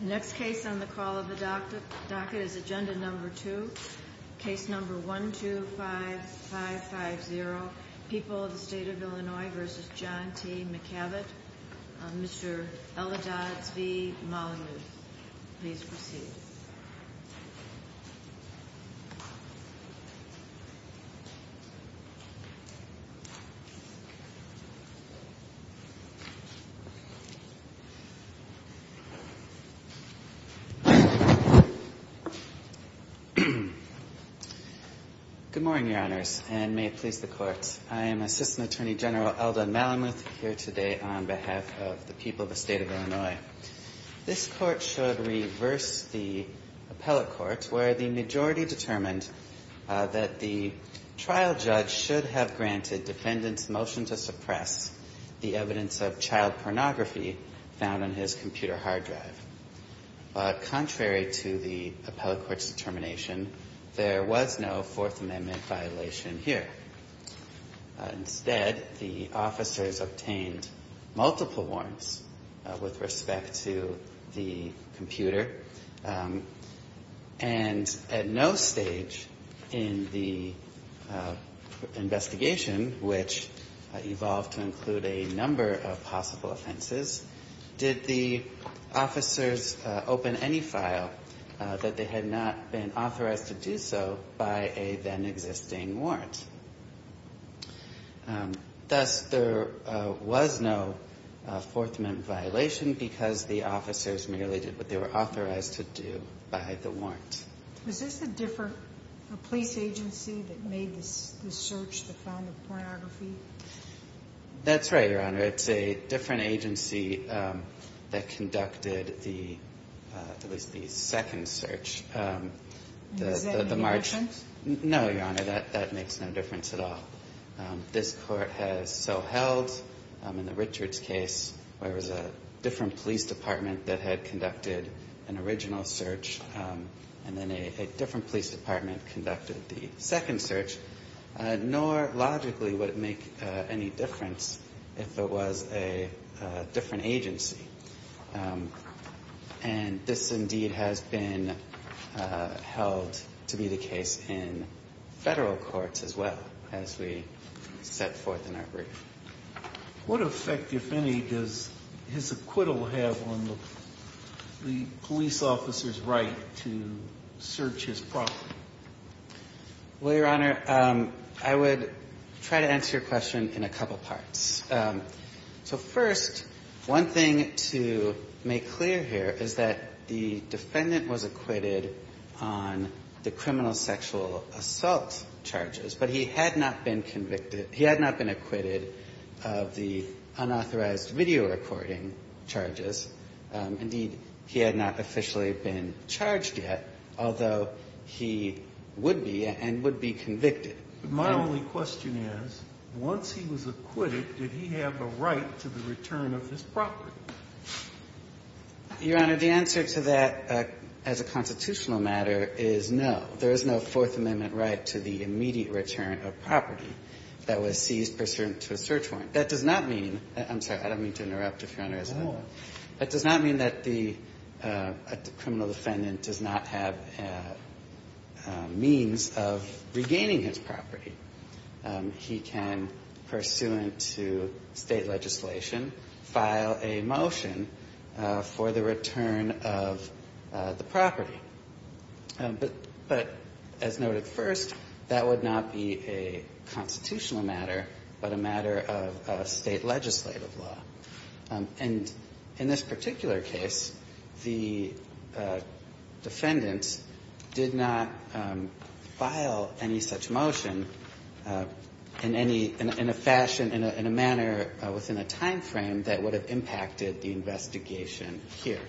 The next case on the call of the docket is Agenda No. 2, Case No. 125550, People of the State of Illinois v. John T. McCavitt, Mr. Elidadz v. Molyneux. Please proceed. Elidadz Good morning, Your Honors, and may it please the Court. I am Assistant Attorney General Eldad Malamuth here today on behalf of the People of the State of Illinois. This Court should reverse the appellate courts where the majority determined that the trial judge should have granted defendants' motion to suppress the evidence of child pornography found on his computer hard drive. But contrary to the appellate court's determination, there was no Fourth Amendment violation here. Instead, the officers obtained multiple warrants with respect to the computer, and at no stage in the investigation, which evolved to include a number of possible offenses, did the officers open any file that they had not been authorized to do so by a then-existing warrant. Thus, there was no Fourth Amendment violation because the officers merely did what they were authorized to do by the warrant. Sotomayor Was this a different police agency that made the search that found the pornography? Elidadz That's right, Your Honor. It's a different agency that conducted the, in this case, the second search. Sotomayor Is that any different? Elidadz No, Your Honor. That makes no difference at all. This Court has so held, in the Richards case, where it was a different police department that had conducted an original search, and then a different police department conducted the second search. And that, indeed, has been held to be the case in Federal courts as well, as we set forth in our brief. Sotomayor What effect, if any, does his acquittal have on the police officer's right to search his property? Elidadz Well, Your Honor, I would try to answer your question in a couple parts. So first, one thing to make clear here is that the defendant was acquitted on the criminal sexual assault charges, but he had not been convicted – he had not been acquitted of the unauthorized video recording charges. Indeed, he had not officially been charged yet, although he would be and would be convicted. Sotomayor My only question is, once he was acquitted, did he have a right to the return of his property? Elidadz Your Honor, the answer to that, as a constitutional matter, is no. There is no Fourth Amendment right to the immediate return of property that was seized pursuant to a search warrant. That does not mean – I'm sorry, I don't mean to interrupt, if Your Honor has a moment. That does not mean that the criminal defendant does not have means of regaining his property. He can, pursuant to State legislation, file a motion for the return of the property. But, as noted first, that would not be a constitutional matter, but a matter of State legislative law. And in this particular case, the defendant did not file any such motion in any – in a fashion, in a manner within a time frame that would have impacted the investigation here.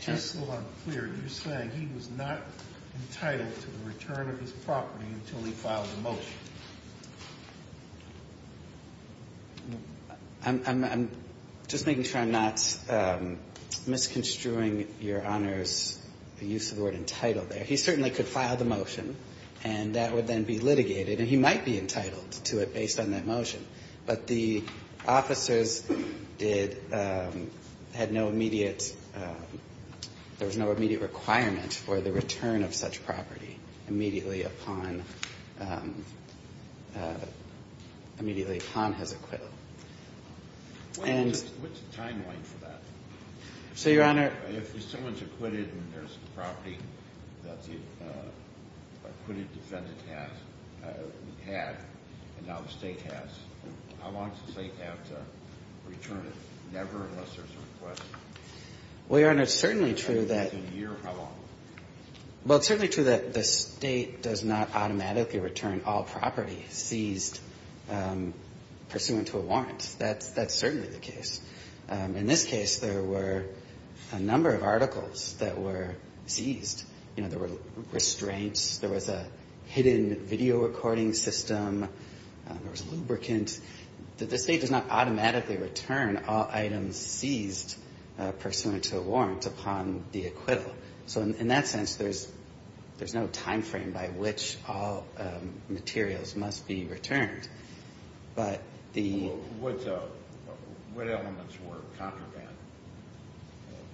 Sotomayor Just so I'm clear, you're saying he was not entitled to the return of his property until he filed a motion. Elidadz I'm just making sure I'm not misconstruing Your Honor's use of the word entitled there. He certainly could file the motion, and that would then be litigated, and he might be entitled to it based on that motion. But the officers did – had no immediate – there was no immediate requirement for the return of such property immediately upon – immediately upon his acquittal. And – Kennedy What's the timeline for that? Elidadz So, Your Honor – Kennedy If someone's acquitted and there's a property that the acquitted defendant has – had, and now the State has, how long does the State have to return it, never unless there's a request? Elidadz Well, Your Honor, it's certainly true that Kennedy A year, how long? Elidadz Well, it's certainly true that the State does not automatically return all property seized pursuant to a warrant. That's – that's certainly the case. In this case, there were a number of articles that were seized. You know, there were restraints. There was a hidden video recording system. There was lubricant. The State does not automatically return all items seized pursuant to a warrant upon the acquittal. So, in that sense, there's – there's no time frame by which all materials must be returned. But the – Kennedy Well, what – what elements were contraband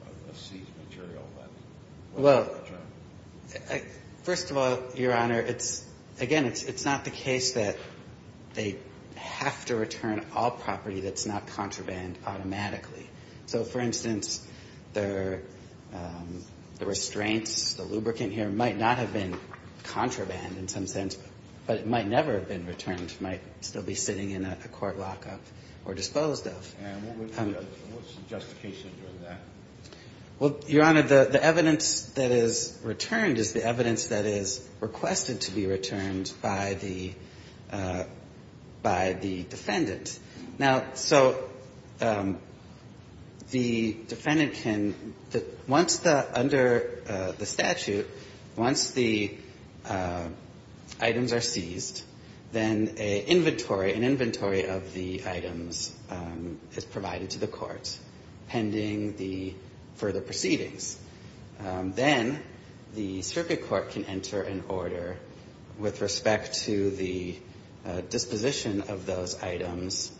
of a seized material that was returned? Elidadz Well, first of all, Your Honor, it's – again, it's not the case that they have to return all property that's not contraband automatically. So, for instance, the – the restraints, the lubricant here might not have been contraband in some sense, but it might never have been returned. It might still be sitting in a court lockup or disposed of. Kennedy And what was the justification for that? Elidadz Well, Your Honor, the – the evidence that is returned is the evidence that is requested to be returned by the – by the defendant. Now, so the defendant can – once the – under the statute, once the items are seized, then an inventory – an inventory of the items is provided to the court pending the further proceedings. Then the circuit court can enter an order with respect to the disposition of those items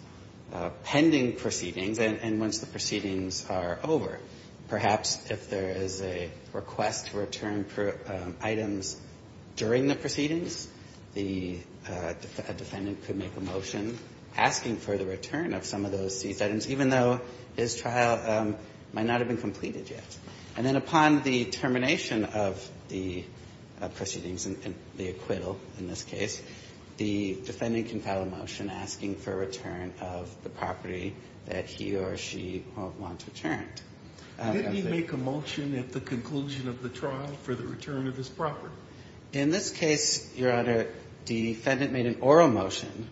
pending proceedings. And once the proceedings are over, perhaps if there is a request to return items during the proceedings, the defendant could make a motion asking for the return of some of those seized items, even though his trial might not have been completed yet. And then upon the termination of the proceedings and the acquittal in this case, the defendant can file a motion asking for a return of the property that he or she wants returned. Scalia Did he make a motion at the conclusion of the trial for the return of his property? Elidadz In this case, Your Honor, the defendant made an oral motion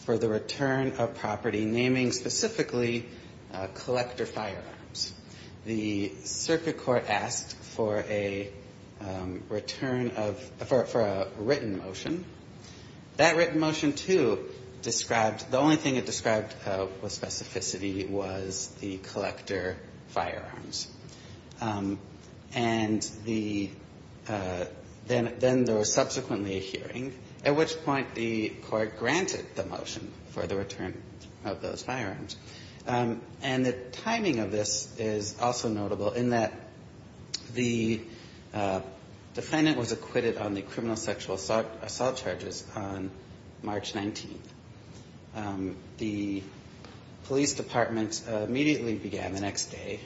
for the return of property naming specifically collector firearms. The circuit court asked for a return of – for a written motion. That written motion, too, described – the only thing it described with specificity was the collector firearms. And the – then there was subsequently a hearing, at which point the court granted the motion for the return of those firearms. And the timing of this is also notable in that the defendant was acquitted on the criminal sexual assault charges on March 19th. The police department immediately began the next day,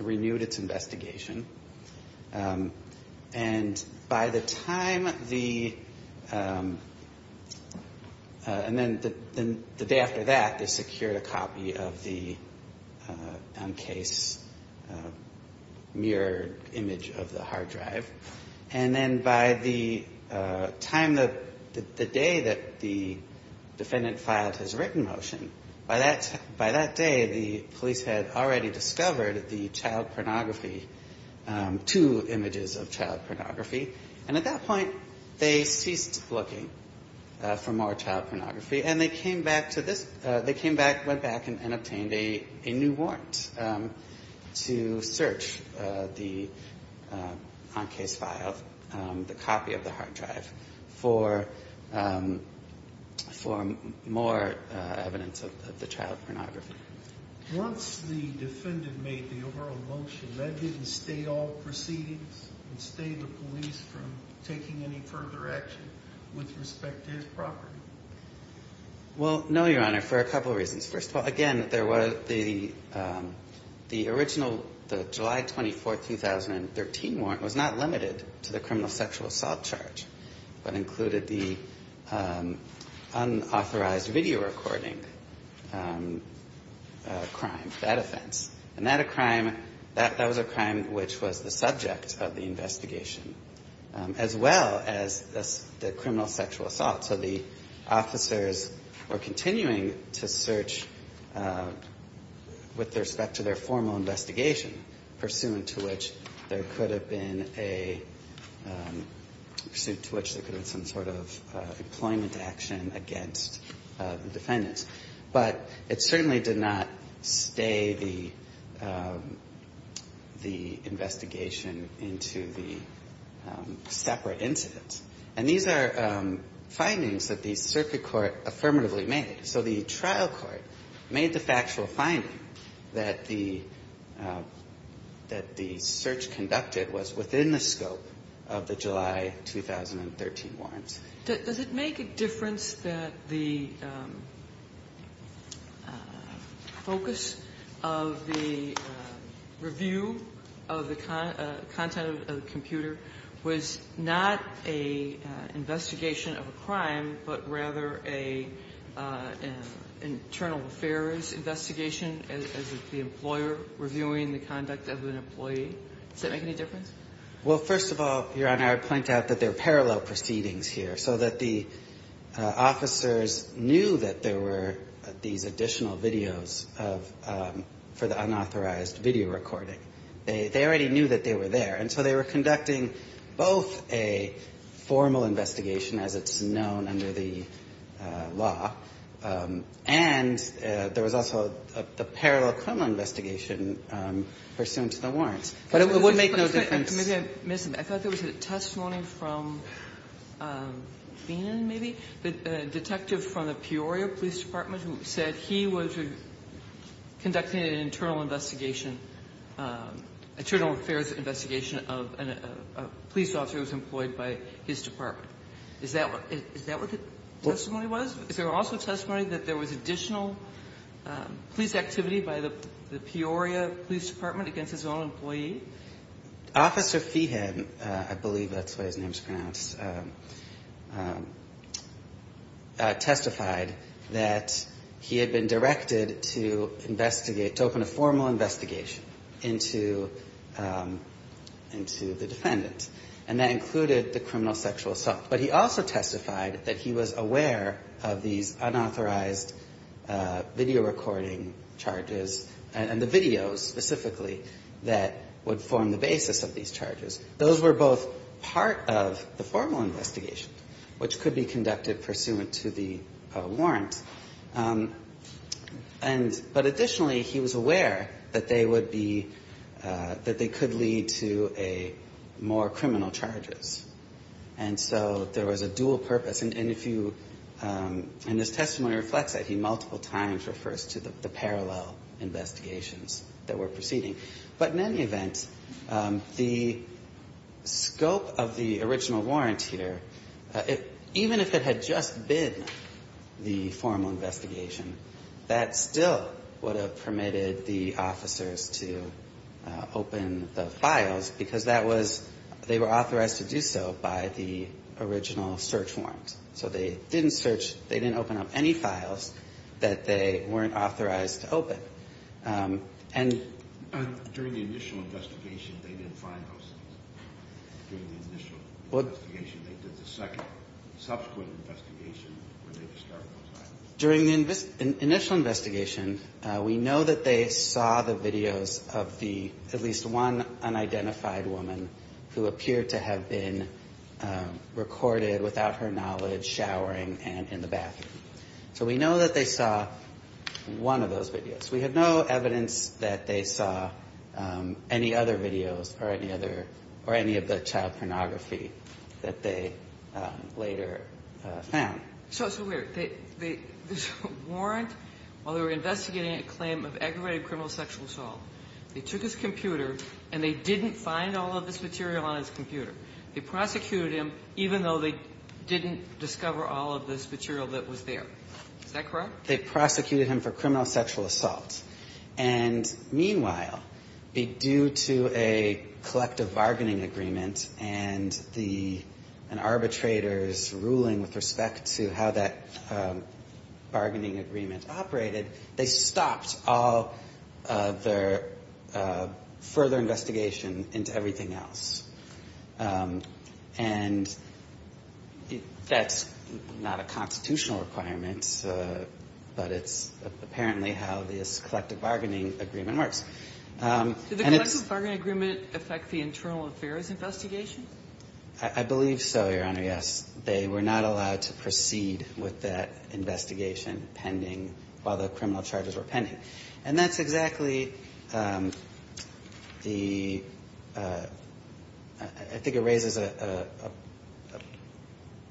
renewed its investigation, and by the time the – and then the day after that, the security department secured a copy of the, on case, mirrored image of the hard drive. And then by the time that – the day that the defendant filed his written motion, by that – by that day, the police had already discovered the child pornography – two images of child pornography. And at that point, they ceased looking for more child pornography, and they came back to this – they came back, went back, and obtained a new warrant to search the, on case file, the copy of the hard drive for more evidence of the child pornography. Once the defendant made the overall motion, that didn't stay all proceedings? It stayed the police from taking any further action with respect to his property? Well, no, Your Honor, for a couple of reasons. First of all, again, there was the original – the July 24, 2013 warrant was not limited to the criminal sexual assault charge, but included the unauthorized video recording crime, that offense. And that a crime – that was a crime which was the subject of the investigation, as well as the criminal sexual assault. So the officers were continuing to search with respect to their formal investigation, pursuant to which there could have been a – pursuant to which there could have been some sort of employment action against the defendants. But it certainly did not stay the investigation into the separate incidents. And these are findings that the circuit court affirmatively made. So the trial court made the factual finding that the – that the search conducted was within the scope of the July 2013 warrants. Does it make a difference that the focus of the review of the content of the computer was not an investigation of a crime, but rather an internal affairs investigation as the employer reviewing the conduct of an employee? Does that make any difference? Well, first of all, Your Honor, I point out that there are parallel proceedings here. So that the officers knew that there were these additional videos of – for the unauthorized video recording. They already knew that they were there. And so they were conducting both a formal investigation, as it's known under the law, and there was also a parallel criminal investigation pursuant to the warrants. But it would make no difference. Maybe I missed something. I thought there was a testimony from Feenan, maybe? A detective from the Peoria Police Department who said he was conducting an internal investigation, internal affairs investigation of a police officer who was employed by his department. Is that what the testimony was? Is there also testimony that there was additional police activity by the Peoria Police Department against his own employee? Officer Feenan, I believe that's the way his name is pronounced, testified that he had been directed to investigate – to open a formal investigation into the defendant. And that included the criminal sexual assault. But he also testified that he was aware of these unauthorized video recording charges, and the videos specifically, that would form the basis of these charges. Those were both part of the formal investigation, which could be conducted pursuant to the warrant. And – but additionally, he was aware that they would be – that they could lead to a – more criminal charges. And so there was a dual purpose. And if you – and this testimony reflects that. He multiple times refers to the parallel investigations that were proceeding. But in any event, the scope of the original warrant here, even if it had just been the formal investigation, that still would have permitted the officers to open the files, because that was – they were authorized to do so by the original search warrant. So they didn't search – they didn't open up any files that they weren't authorized to open. And – During the initial investigation, they didn't find those things. During the initial investigation, they did the second subsequent investigation where they discovered those items. During the initial investigation, we know that they saw the videos of the – at least one unidentified woman who appeared to have been recorded without her knowledge showering and in the bathroom. So we know that they saw one of those videos. We have no evidence that they saw any other videos or any other – or any of the child pornography that they later found. So – so wait a minute. They – this warrant, while they were investigating a claim of aggravated criminal sexual assault, they took his computer and they didn't find all of this material on his computer. They prosecuted him, even though they didn't discover all of this material that was there. Is that correct? They prosecuted him for criminal sexual assault. And meanwhile, due to a collective bargaining agreement and the – an arbitrator's ruling with respect to how that bargaining agreement operated, they stopped all of their further investigation into everything else. And that's not a constitutional requirement, but it's apparently how this collective bargaining agreement works. And it's – Do the collective bargaining agreement affect the internal affairs investigation? I believe so, Your Honor, yes. They were not allowed to proceed with that investigation pending while the criminal charges were pending. And that's exactly the – I think it raises a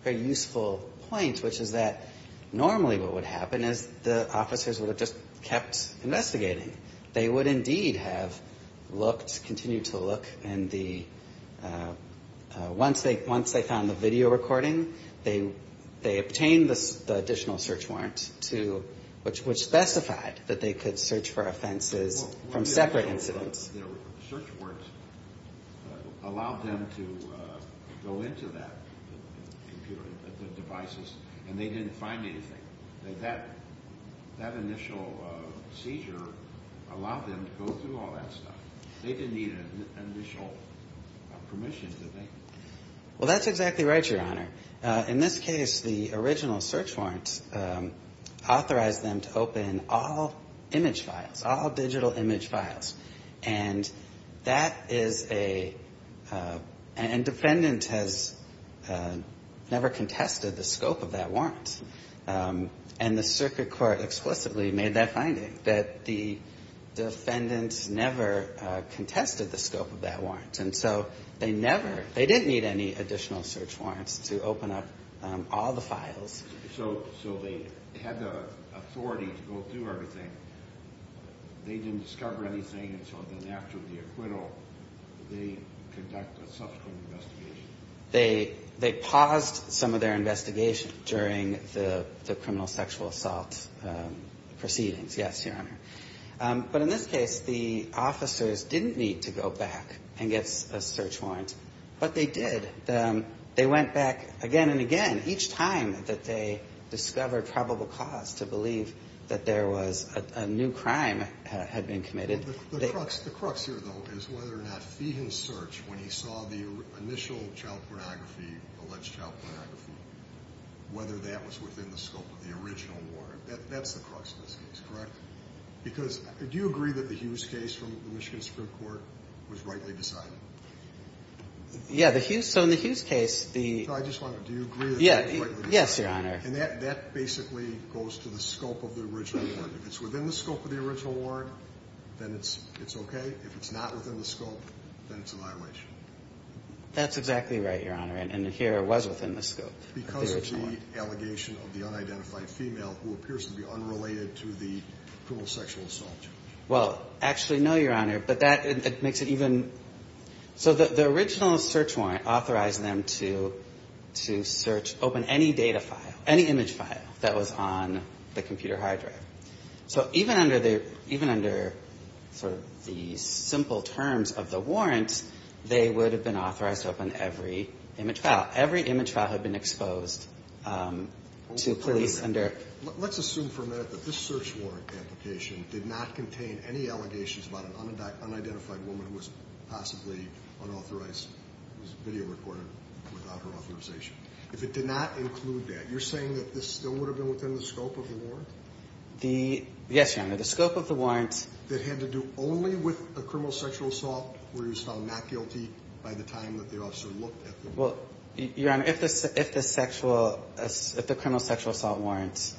very useful point, which is that normally what would happen is the officers would have just kept investigating. They would indeed have looked, continued to look, and the – once they found the video recording, they obtained the additional search warrant to – which specified that they could search for offenses from separate incidents. Well, what if their search warrants allowed them to go into that computer, the devices, and they didn't find anything? That initial seizure allowed them to go through all that stuff. They didn't need initial permission, did they? Well, that's exactly right, Your Honor. In this case, the original search warrant authorized them to open all image files, all digital image files. And that is a – and defendant has never contested the scope of that warrant. And the circuit court explicitly made that finding, that the defendant never contested the scope of that warrant. And so they never – they didn't need any additional search warrants to open up all the files. So they had the authority to go through everything. They didn't discover anything. And so then after the acquittal, they conduct a subsequent investigation. They paused some of their investigation during the criminal sexual assault proceedings, yes, Your Honor. But in this case, the officers didn't need to go back and get a search warrant. But they did. They went back again and again each time that they discovered probable cause to believe that there was a new crime had been committed. The crux here, though, is whether or not Feehan's search, when he saw the initial child pornography, alleged child pornography, whether that was within the scope of the original warrant. That's the crux of this case, correct? Because do you agree that the Hughes case from the Michigan Supreme Court was rightly decided? Yeah, the Hughes – so in the Hughes case, the – No, I just wanted to – do you agree that it was rightly decided? Yes, Your Honor. And that basically goes to the scope of the original warrant. If it's within the scope of the original warrant, then it's okay. If it's not within the scope, then it's a violation. That's exactly right, Your Honor. And here it was within the scope of the original warrant. Is there any allegation of the unidentified female who appears to be unrelated to the criminal sexual assault? Well, actually, no, Your Honor, but that makes it even – so the original search warrant authorized them to search open any data file, any image file that was on the computer hard drive. So even under the – even under sort of the simple terms of the warrant, they would have been authorized to open every image file. Every image file had been exposed to police under – Let's assume for a minute that this search warrant application did not contain any allegations about an unidentified woman who was possibly unauthorized, was video recorded without her authorization. If it did not include that, you're saying that this still would have been within the scope of the warrant? The – yes, Your Honor, the scope of the warrant – That had to do only with a criminal sexual assault where he was found not guilty by the time that the officer looked at the warrant? Well, Your Honor, if the sexual – if the criminal sexual assault warrants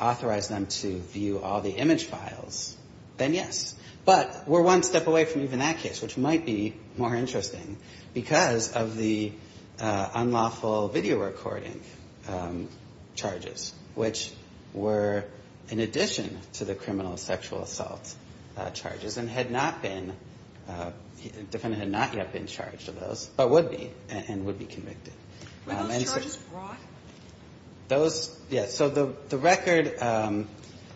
authorized them to view all the image files, then yes. But we're one step away from even that case, which might be more interesting because of the unlawful video recording charges, which were in addition to the criminal sexual assault charges and had not been – the defendant had not yet been charged of those, but would be and would be convicted. Were those charges brought? Those – yes. So the record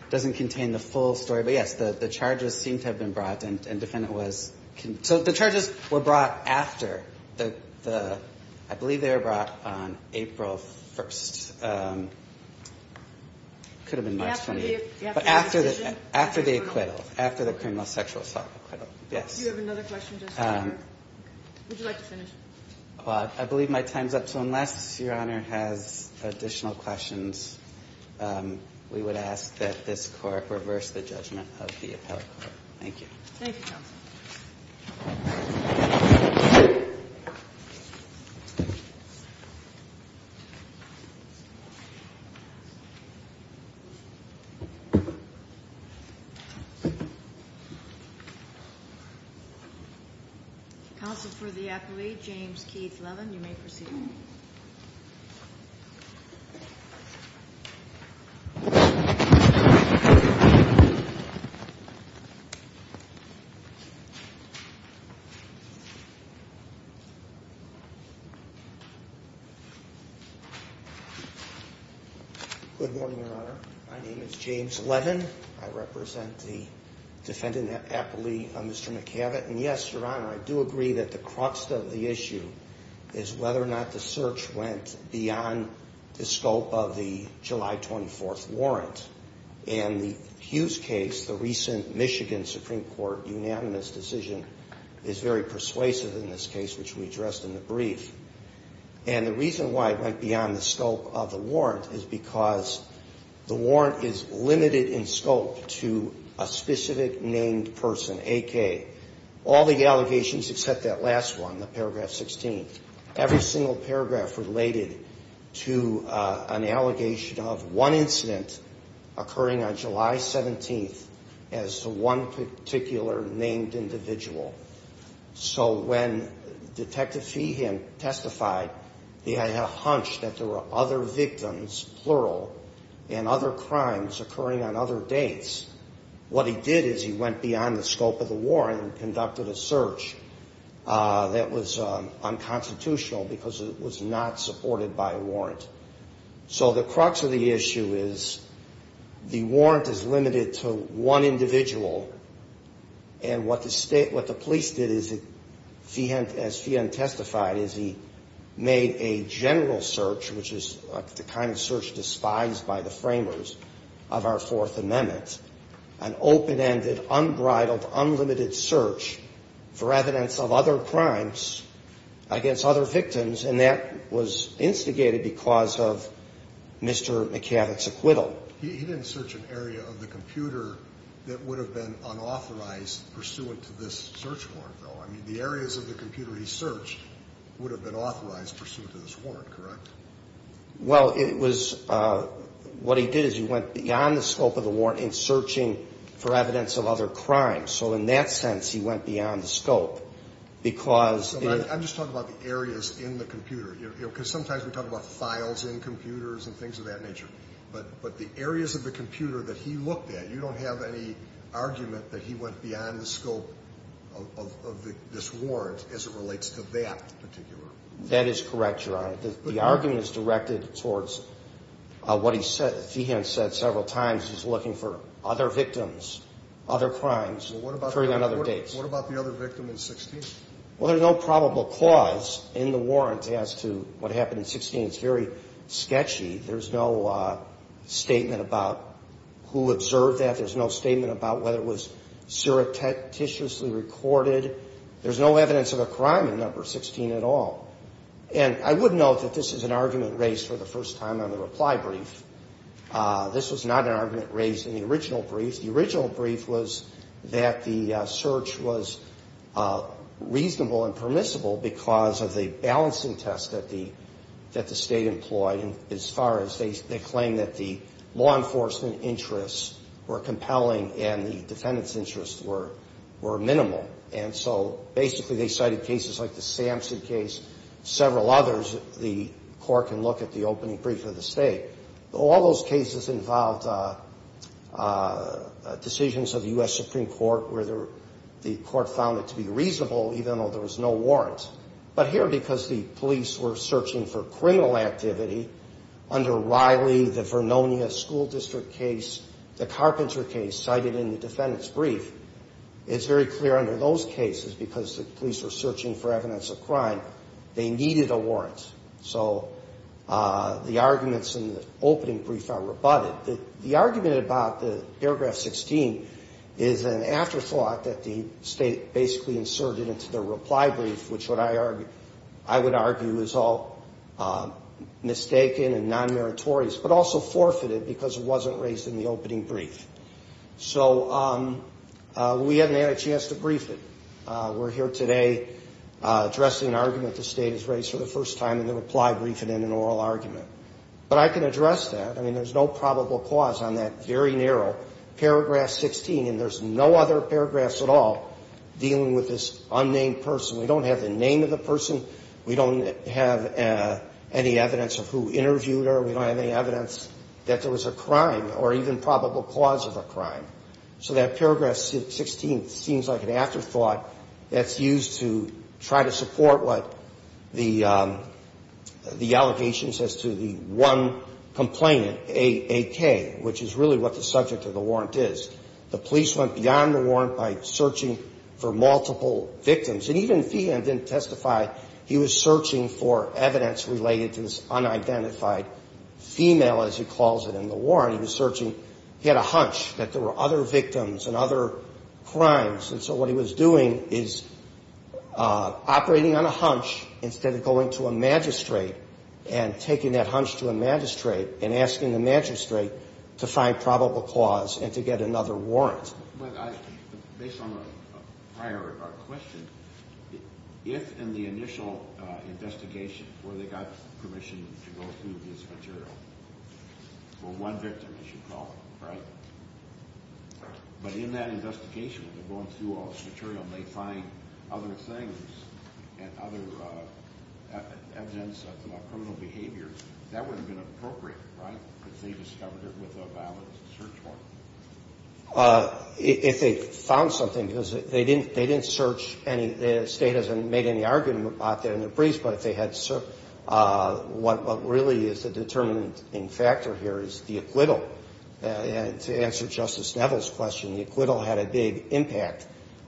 doesn't contain the full story, but yes, the charges seem to have been brought and defendant was – so the charges were brought after the – I believe they were brought on April 1st. It could have been March 28th. But after the acquittal, after the criminal sexual assault acquittal, yes. Do you have another question, Justice Breyer? Would you like to finish? Well, I believe my time's up, so unless Your Honor has additional questions, we would ask that this Court reverse the judgment of the appellate court. Thank you. Thank you, counsel. Counsel for the appellate, James Keith Levin. You may proceed. My name is James Levin. I represent the defendant appellee, Mr. McAvett. And yes, Your Honor, I do agree that the crux of the issue is whether or not the search went beyond the scope of the July 24th warrant. And the Hughes case, the recent Michigan Supreme Court unanimous decision, is very persuasive in this case, which we addressed in the brief. And the reason why it went beyond the scope of the warrant is because the warrant is limited in scope to a specific named person, a.k.a. all the allegations except that last one, the paragraph 16. Every single paragraph related to an allegation of one incident occurring on July 17th as to one particular named individual. So when Detective Feehan testified, he had a hunch that there were other victims, plural, and other crimes occurring on other dates. What he did is he went beyond the scope of the warrant and conducted a search that was unconstitutional because it was not supported by a warrant. So the crux of the issue is the warrant is limited to one individual, and what the police did as Feehan testified is he made a general search, which is the kind of search despised by the framers of our Fourth Amendment, an open-ended, unbridled, unlimited search for evidence of other crimes against other victims, and that was instigated because of Mr. McCavick's acquittal. Well, he didn't search an area of the computer that would have been unauthorized pursuant to this search warrant, though. I mean, the areas of the computer he searched would have been authorized pursuant to this warrant, correct? Well, it was what he did is he went beyond the scope of the warrant in searching for evidence of other crimes. So in that sense, he went beyond the scope because he I'm just talking about the areas in the computer, because sometimes we talk about files in computers and things of that nature. But the areas of the computer that he looked at, you don't have any argument that he went beyond the scope of this warrant as it relates to that particular. That is correct, Your Honor. The argument is directed towards what Feehan said several times. He's looking for other victims, other crimes occurring on other dates. Well, what about the other victim in 16? Well, there's no probable cause in the warrant as to what happened in 16. It's very sketchy. There's no statement about who observed that. There's no statement about whether it was surreptitiously recorded. There's no evidence of a crime in No. 16 at all. And I would note that this is an argument raised for the first time on the reply brief. This was not an argument raised in the original brief. The original brief was that the search was reasonable and permissible because of the balancing test that the State employed as far as they claim that the law enforcement interests were compelling and the defendant's interests were minimal. And so basically they cited cases like the Samson case, several others. The Court can look at the opening brief of the State. All those cases involved decisions of the U.S. Supreme Court where the Court found it to be reasonable, even though there was no warrant. But here, because the police were searching for criminal activity under Riley, the Vernonia School District case, the Carpenter case cited in the defendant's brief, it's very clear under those cases, because the police were searching for evidence of crime, they needed a warrant. So the arguments in the opening brief are rebutted. The argument about the paragraph 16 is an afterthought that the State basically inserted into their reply brief, which I would argue is all mistaken and non-meritorious, but also forfeited because it wasn't raised in the opening brief. So we haven't had a chance to brief it. We're here today addressing an argument the State has raised for the first time in the reply briefing in an oral argument. But I can address that. I mean, there's no probable cause on that very narrow paragraph 16, and there's no other paragraphs at all dealing with this unnamed person. We don't have the name of the person. We don't have any evidence of who interviewed her. We don't have any evidence that there was a crime or even probable cause of a crime. So that paragraph 16 seems like an afterthought that's used to try to support what the allegations as to the one complainant, AK, which is really what the subject of the warrant is. The police went beyond the warrant by searching for multiple victims. And even Fehan didn't testify. He was searching for evidence related to this unidentified female, as he calls it, in the warrant. He was searching. He had a hunch that there were other victims and other crimes. And so what he was doing is operating on a hunch instead of going to a magistrate and taking that hunch to a magistrate and asking the magistrate to find probable cause and to get another warrant. But based on a prior question, if in the initial investigation where they got permission to go through this material, for one victim, as you call it, right, but in that investigation, they're going through all this material and they find other things and other evidence of criminal behavior, that wouldn't have been appropriate, right, if they discovered it with a valid search warrant? If they found something, because they didn't search any. The State hasn't made any argument about that in the briefs. But if they had searched, what really is the determining factor here is the acquittal. And to answer Justice Neville's question, the acquittal had a big impact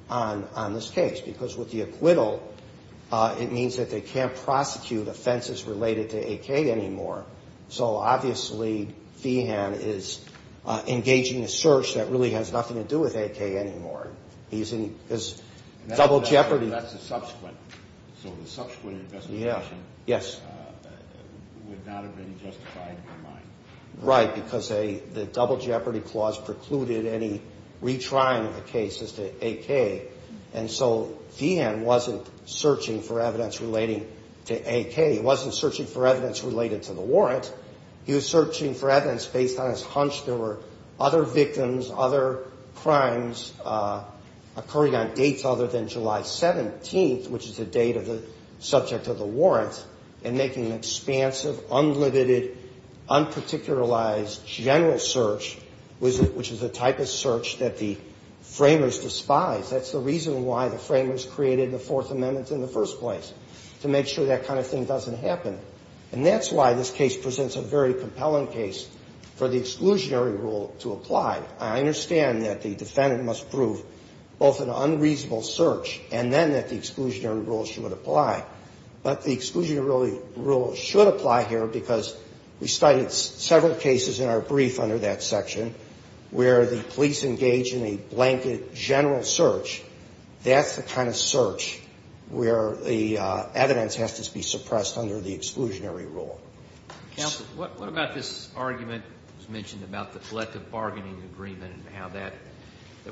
on this case because with the acquittal, it means that they can't prosecute offenses related to A.K. anymore. So obviously Feehan is engaging a search that really has nothing to do with A.K. anymore. He's in double jeopardy. That's the subsequent. So the subsequent investigation would not have been justified in your mind. Right, because the double jeopardy clause precluded any retrying of the case as to A.K. And so Feehan wasn't searching for evidence relating to A.K. He wasn't searching for evidence related to the warrant. He was searching for evidence based on his hunch there were other victims, other crimes occurring on dates other than July 17th, which is the date of the subject of the warrant, and making an expansive, unlimited, unparticularized general search, which is the type of search that the framers despise. That's the reason why the framers created the Fourth Amendment in the first place, to make sure that kind of thing doesn't happen. And that's why this case presents a very compelling case for the exclusionary rule to apply. I understand that the defendant must prove both an unreasonable search and then that the exclusionary rule should apply. But the exclusionary rule should apply here because we studied several cases in our brief under that section where the police engage in a blanket general search. That's the kind of search where the evidence has to be suppressed under the exclusionary rule. Counsel, what about this argument that was mentioned about the collective bargaining agreement and how there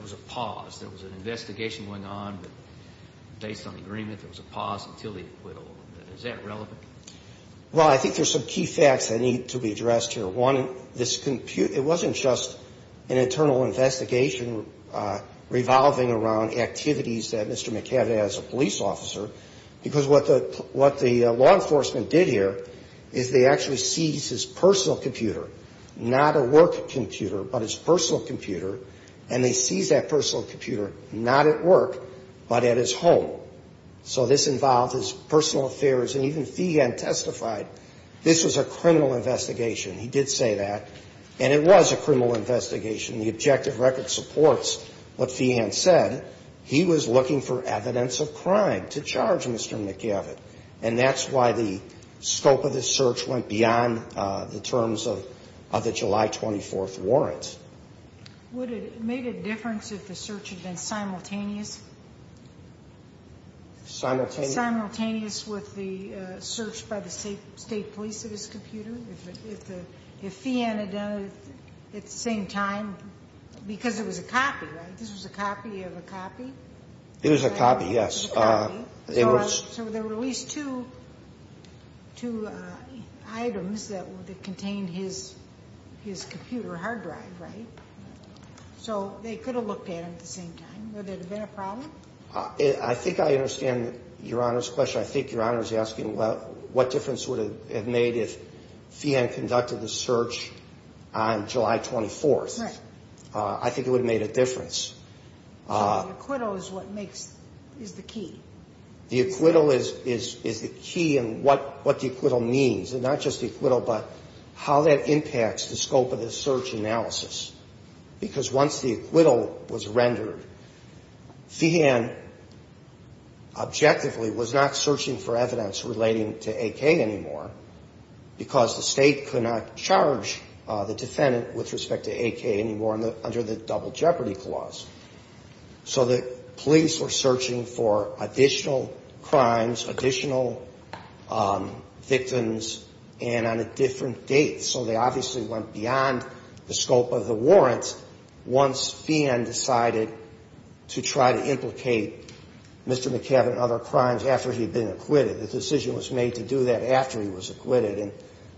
was a pause, there was an investigation going on, but based on agreement, there was a pause until the acquittal. Is that relevant? Well, I think there's some key facts that need to be addressed here. One, this compute — it wasn't just an internal investigation revolving around activities that Mr. McAvity had as a police officer, because what the law enforcement did here is they actually seized his personal computer, not a work computer, but his personal computer, and they seized that personal computer not at work, but at his home. So this involved his personal affairs. And even Feigin testified this was a criminal investigation. He did say that. And it was a criminal investigation. The objective record supports what Feigin said. He was looking for evidence of crime to charge Mr. McAvity. And that's why the scope of this search went beyond the terms of the July 24th warrant. Would it make a difference if the search had been simultaneous? Simultaneous? Simultaneous with the search by the state police of his computer? If Feigin had done it at the same time, because it was a copy, right? This was a copy of a copy? It was a copy, yes. So there were at least two items that contained his computer hard drive, right? So they could have looked at it at the same time. Would there have been a problem? I think I understand Your Honor's question. I think Your Honor is asking what difference would it have made if Feigin conducted the search on July 24th. Right. I think it would have made a difference. So the acquittal is what makes, is the key? The acquittal is the key in what the acquittal means. And not just the acquittal, but how that impacts the scope of the search analysis. Because once the acquittal was rendered, Feigin objectively was not searching for evidence relating to AK anymore, because the state could not charge the defendant with respect to AK anymore under the Double Jeopardy Clause. So the police were searching for additional crimes, additional victims, and on a different date. So they obviously went beyond the scope of the warrant once Feigin decided to try to implicate Mr. McCabe in other crimes after he had been acquitted. The decision was made to do that after he was acquitted. And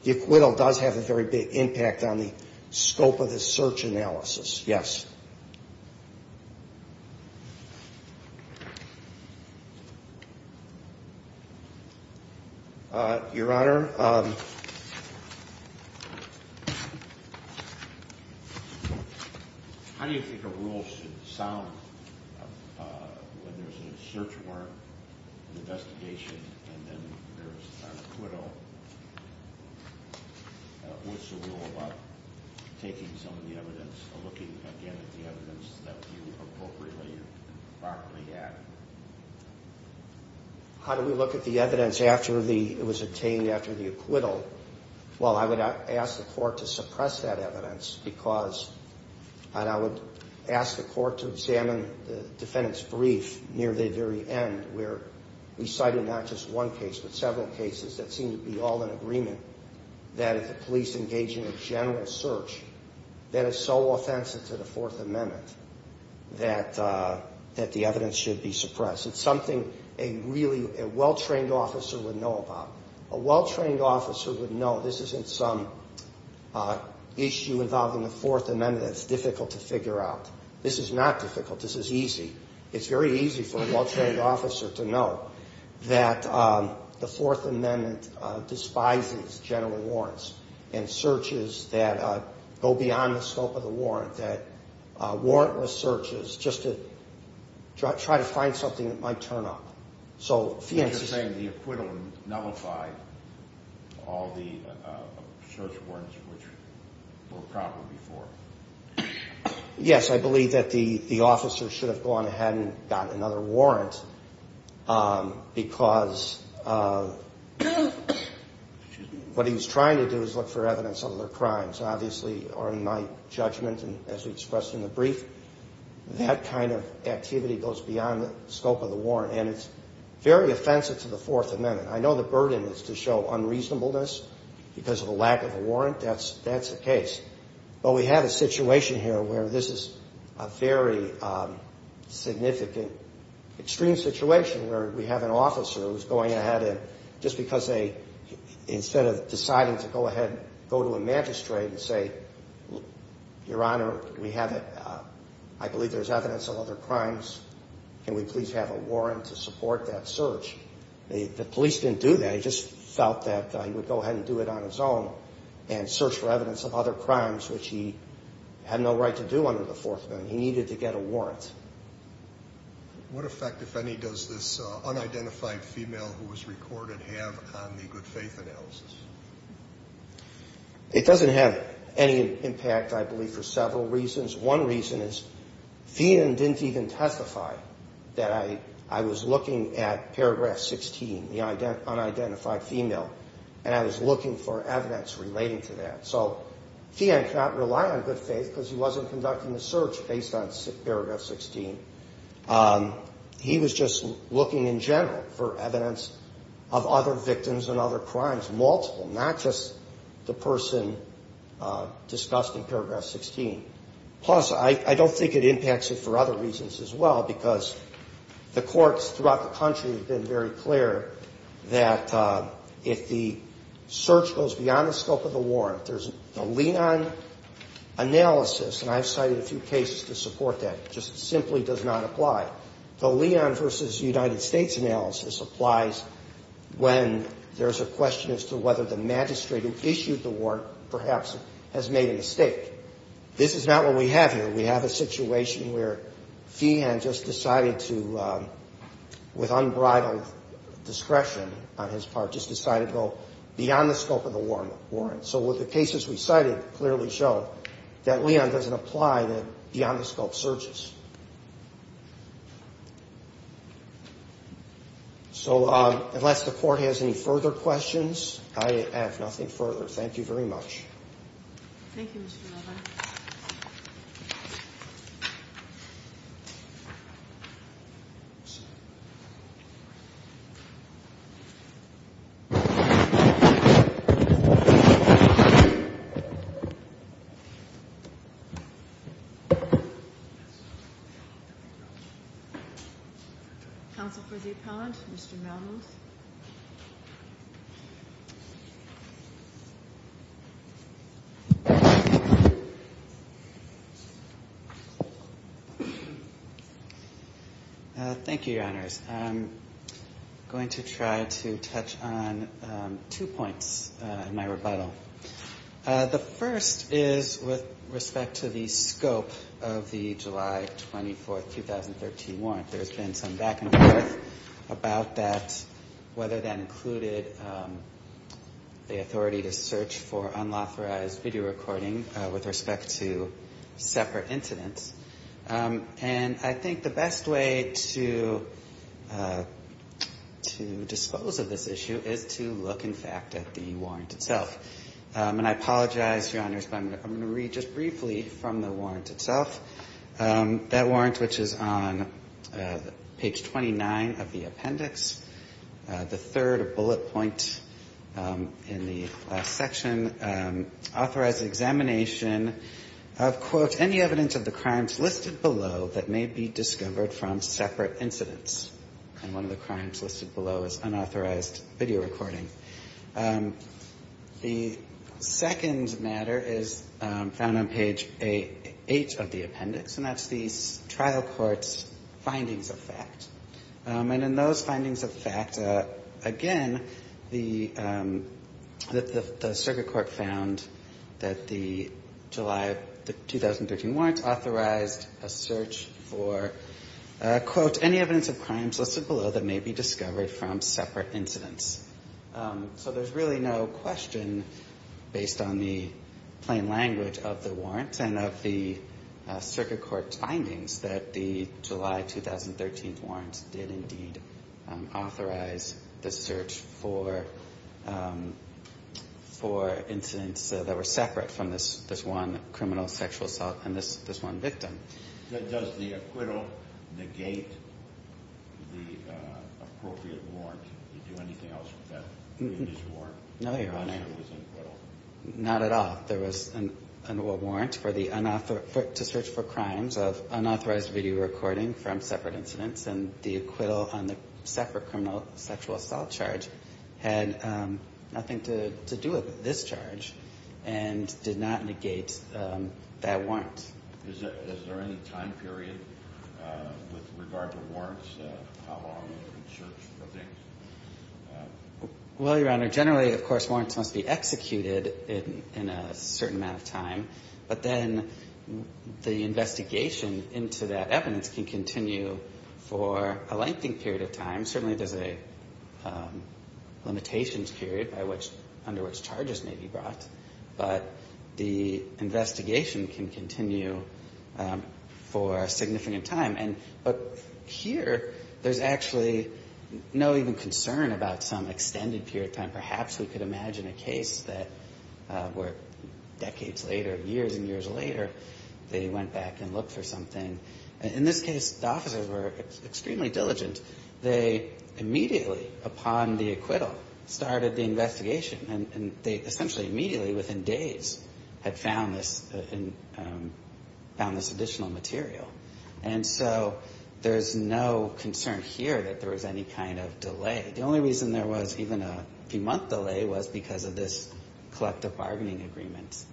the acquittal does have a very big impact on the scope of the search analysis. Yes. Your Honor, how do you think a rule should sound when there's a search warrant, an investigation, and then there's an acquittal? What's the rule about taking some of the evidence or looking again at the evidence that you appropriately and properly had? How do we look at the evidence after it was obtained after the acquittal? Well, I would ask the court to suppress that evidence, because I would ask the court to examine the defendant's brief near the very end, where we cited not just one case but several cases that seem to be all in agreement that if the police engage in a general search, that is so offensive to the Fourth Amendment that the evidence should be suppressed. It's something a really well-trained officer would know about. A well-trained officer would know this isn't some issue involving the Fourth Amendment that's difficult to figure out. This is not difficult. This is easy. It's very easy for a well-trained officer to know that the Fourth Amendment despises general warrants and searches that go beyond the scope of the warrant, that warrantless searches just to try to find something that might turn up. So if the incident... You're saying the acquittal nullified all the search warrants which were probably before. Yes, I believe that the officer should have gone ahead and gotten another warrant, because what he was trying to do was look for evidence of other crimes. Obviously, in my judgment and as we expressed in the brief, that kind of activity goes beyond the scope of the warrant, and it's very offensive to the Fourth Amendment. I know the burden is to show unreasonableness because of a lack of a warrant. That's the case. But we have a situation here where this is a very significant, extreme situation where we have an officer who's going ahead and just because they... Instead of deciding to go ahead and go to a magistrate and say, Your Honor, we have... I believe there's evidence of other crimes. Can we please have a warrant to support that search? The police didn't do that. They just felt that he would go ahead and do it on his own and search for evidence of other crimes, which he had no right to do under the Fourth Amendment. He needed to get a warrant. What effect, if any, does this unidentified female who was recorded have on the good faith analysis? It doesn't have any impact, I believe, for several reasons. One reason is Thien didn't even testify that I was looking at Paragraph 16, the unidentified female, and I was looking for evidence relating to that. So Thien cannot rely on good faith because he wasn't conducting the search based on Paragraph 16. He was just looking in general for evidence of other victims and other crimes, multiple, not just the person discussed in Paragraph 16. Plus, I don't think it impacts it for other reasons as well, because the courts throughout the country have been very clear that if the search goes beyond the scope of the warrant, there's a Leon analysis, and I've cited a few cases to support that. It just simply does not apply. The Leon versus United States analysis applies when there's a question as to whether the magistrate who issued the warrant perhaps has made a mistake. This is not what we have here. We have a situation where Thien just decided to, with unbridled discretion on his part, just decided to go beyond the scope of the warrant. So with the cases we cited clearly show that Leon doesn't apply to beyond-the-scope searches. So unless the court has any further questions, I have nothing further. Thank you very much. Thank you, Mr. Novak. Counsel for the appellant, Mr. Malmond. I'm going to try to touch on two points in my rebuttal. The first is with respect to the scope of the July 24th, 2013 warrant. There's been some back and forth about that, whether that included the authority to search for unauthorized video recording with respect to separate incidents. And I think the best way to dispose of this issue is to look, in fact, at the warrant itself. And I apologize, Your Honors, but I'm going to read just briefly from the warrant itself. That warrant, which is on page 29 of the appendix, the third bullet point in the last examination of, quote, any evidence of the crimes listed below that may be discovered from separate incidents. And one of the crimes listed below is unauthorized video recording. The second matter is found on page 8 of the appendix, and that's the trial court's findings of fact. And in those findings of fact, again, the circuit court found that the July 2013 warrant authorized a search for, quote, any evidence of crimes listed below that may be discovered from separate incidents. So there's really no question, based on the plain language of the warrant and of the circuit court's findings, that the July 2013 warrant did indeed authorize the search for incidents that were separate from this one criminal sexual assault and this one victim. Does the acquittal negate the appropriate warrant? Did you do anything else with that warrant? No, Your Honor. Not at all. We thought there was a warrant to search for crimes of unauthorized video recording from separate incidents, and the acquittal on the separate criminal sexual assault charge had nothing to do with this charge and did not negate that warrant. Is there any time period with regard to warrants? How long is the search for things? Well, Your Honor, generally, of course, warrants must be executed in a certain amount of time, but then the investigation into that evidence can continue for a lengthy period of time. Certainly there's a limitations period under which charges may be brought, but the investigation can continue for a significant time. But here, there's actually no even concern about some extended period of time. Perhaps we could imagine a case where decades later, years and years later, they went back and looked for something. In this case, the officers were extremely diligent. They immediately, upon the acquittal, started the investigation, and they essentially immediately, within days, had found this additional material. And so there's no concern here that there was any kind of delay. The only reason there was even a few-month delay was because of this collective bargaining agreement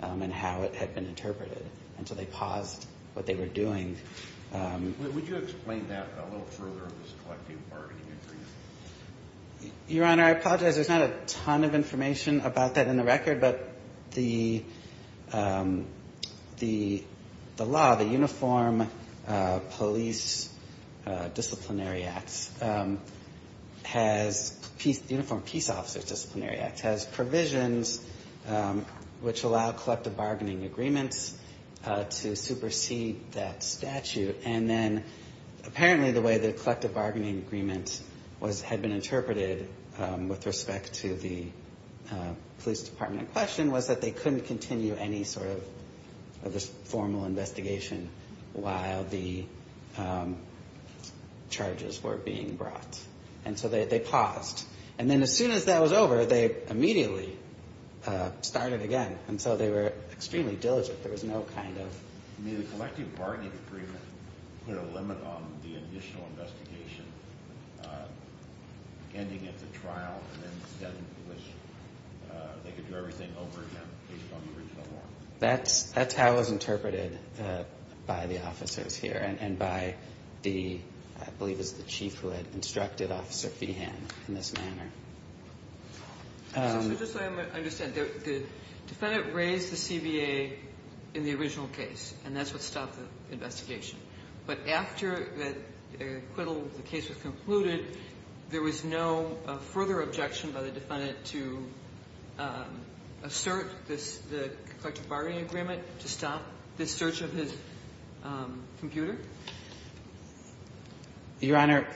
and how it had been interpreted. And so they paused what they were doing. Would you explain that a little further, this collective bargaining agreement? Your Honor, I apologize. There's not a ton of information about that in the record, but the law, the uniform police disciplinary acts, the uniform peace officers disciplinary acts, has provisions which allow collective bargaining agreements to supersede that statute. And then apparently the way the collective bargaining agreement had been interpreted with respect to the police department in question was that they couldn't continue any sort of formal investigation while the charges were being brought. And so they paused. And then as soon as that was over, they immediately started again. And so they were extremely diligent. There was no kind of... I mean, the collective bargaining agreement put a limit on the initial investigation, ending at the trial, and then they could do everything over again based on the original law. That's how it was interpreted by the officers here and by the, I believe it was the chief who had instructed Officer Feehan in this manner. So just so I understand, the defendant raised the CBA in the original case, and that's what stopped the investigation. But after the acquittal, the case was concluded, there was no further objection by the defendant to assert the collective bargaining agreement to stop the search of his computer? Your Honor,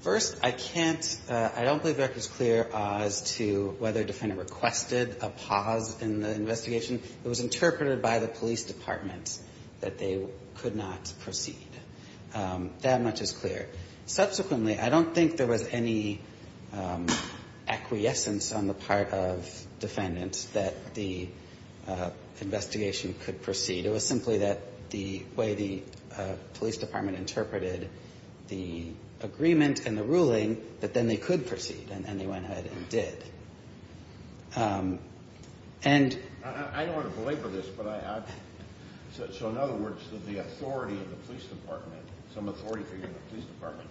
first, I can't – I don't believe the record is clear as to whether the defendant requested a pause in the investigation. It was interpreted by the police department that they could not proceed. That much is clear. Subsequently, I don't think there was any acquiescence on the part of defendants that the investigation could proceed. It was simply that the way the police department interpreted the agreement and the ruling, that then they could proceed, and they went ahead and did. And – I don't want to belabor this, but I – so in other words, the authority of the police department, some authority figure in the police department,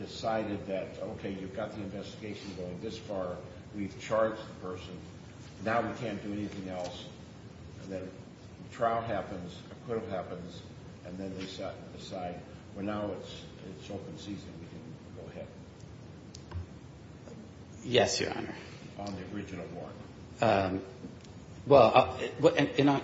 decided that, okay, you've got the investigation going this far, we've charged the person, now we can't do anything else, and then trial happens, acquittal happens, and then they decide, well, now it's open season, we can go ahead. Yes, Your Honor. On the original warrant? Well,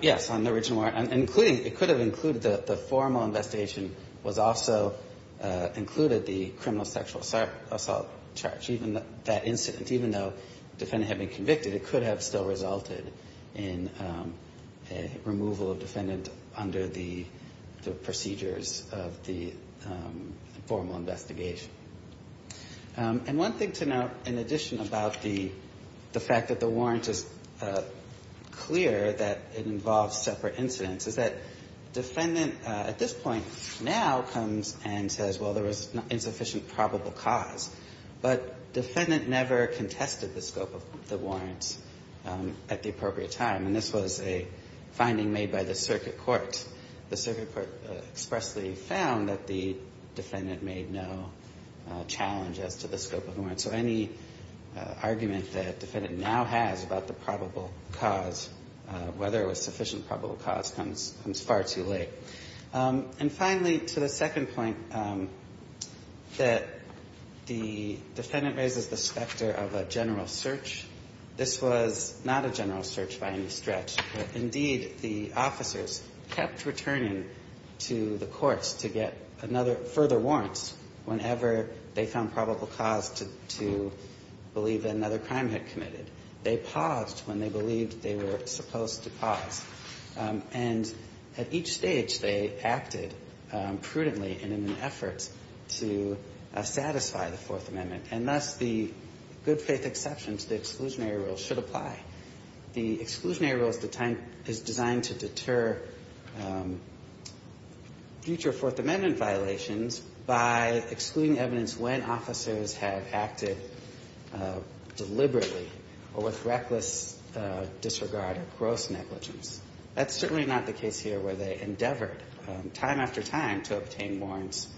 yes, on the original warrant. And including – it could have included – the formal investigation was also included the criminal sexual assault charge. Even that incident, even though the defendant had been convicted, it could have still resulted in a removal of defendant under the procedures of the formal investigation. And one thing to note, in addition about the fact that the warrant is clear that it involves separate incidents, is that defendant at this point now comes and says, well, there was insufficient probable cause, but defendant never contested the scope of the warrant at the appropriate time. And this was a finding made by the circuit court. The circuit court expressly found that the defendant made no challenge as to the scope of the warrant. So any argument that defendant now has about the probable cause, whether it was sufficient probable cause, comes far too late. And finally, to the second point, that the defendant raises the specter of a general search. This was not a general search by any stretch. Indeed, the officers kept returning to the courts to get another – further warrants whenever they found probable cause to believe that another crime had committed. They paused when they believed they were supposed to pause. And at each stage, they acted prudently and in an effort to satisfy the Fourth Amendment. And thus, the good-faith exception to the exclusionary rule should apply. The exclusionary rule is designed to deter future Fourth Amendment violations by excluding evidence when officers have acted deliberately or with reckless disregard or gross negligence. That's certainly not the case here where they endeavored time after time to obtain the acquittal.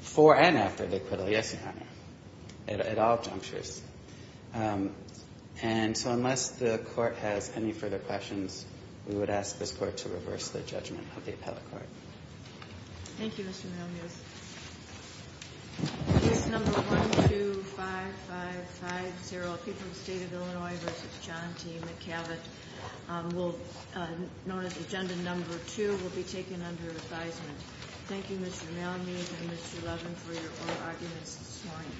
For and after the acquittal, yes, Your Honor, at all junctures. And so unless the Court has any further questions, we would ask this Court to reverse the judgment of the appellate court. Thank you, Mr. Munoz. Case number 125550, appeal to the State of Illinois v. John T. McAvett, known as Agenda Number 2, will be taken under advisement. Thank you, Mr. Malmey and Mr. Levin, for your oral arguments this morning.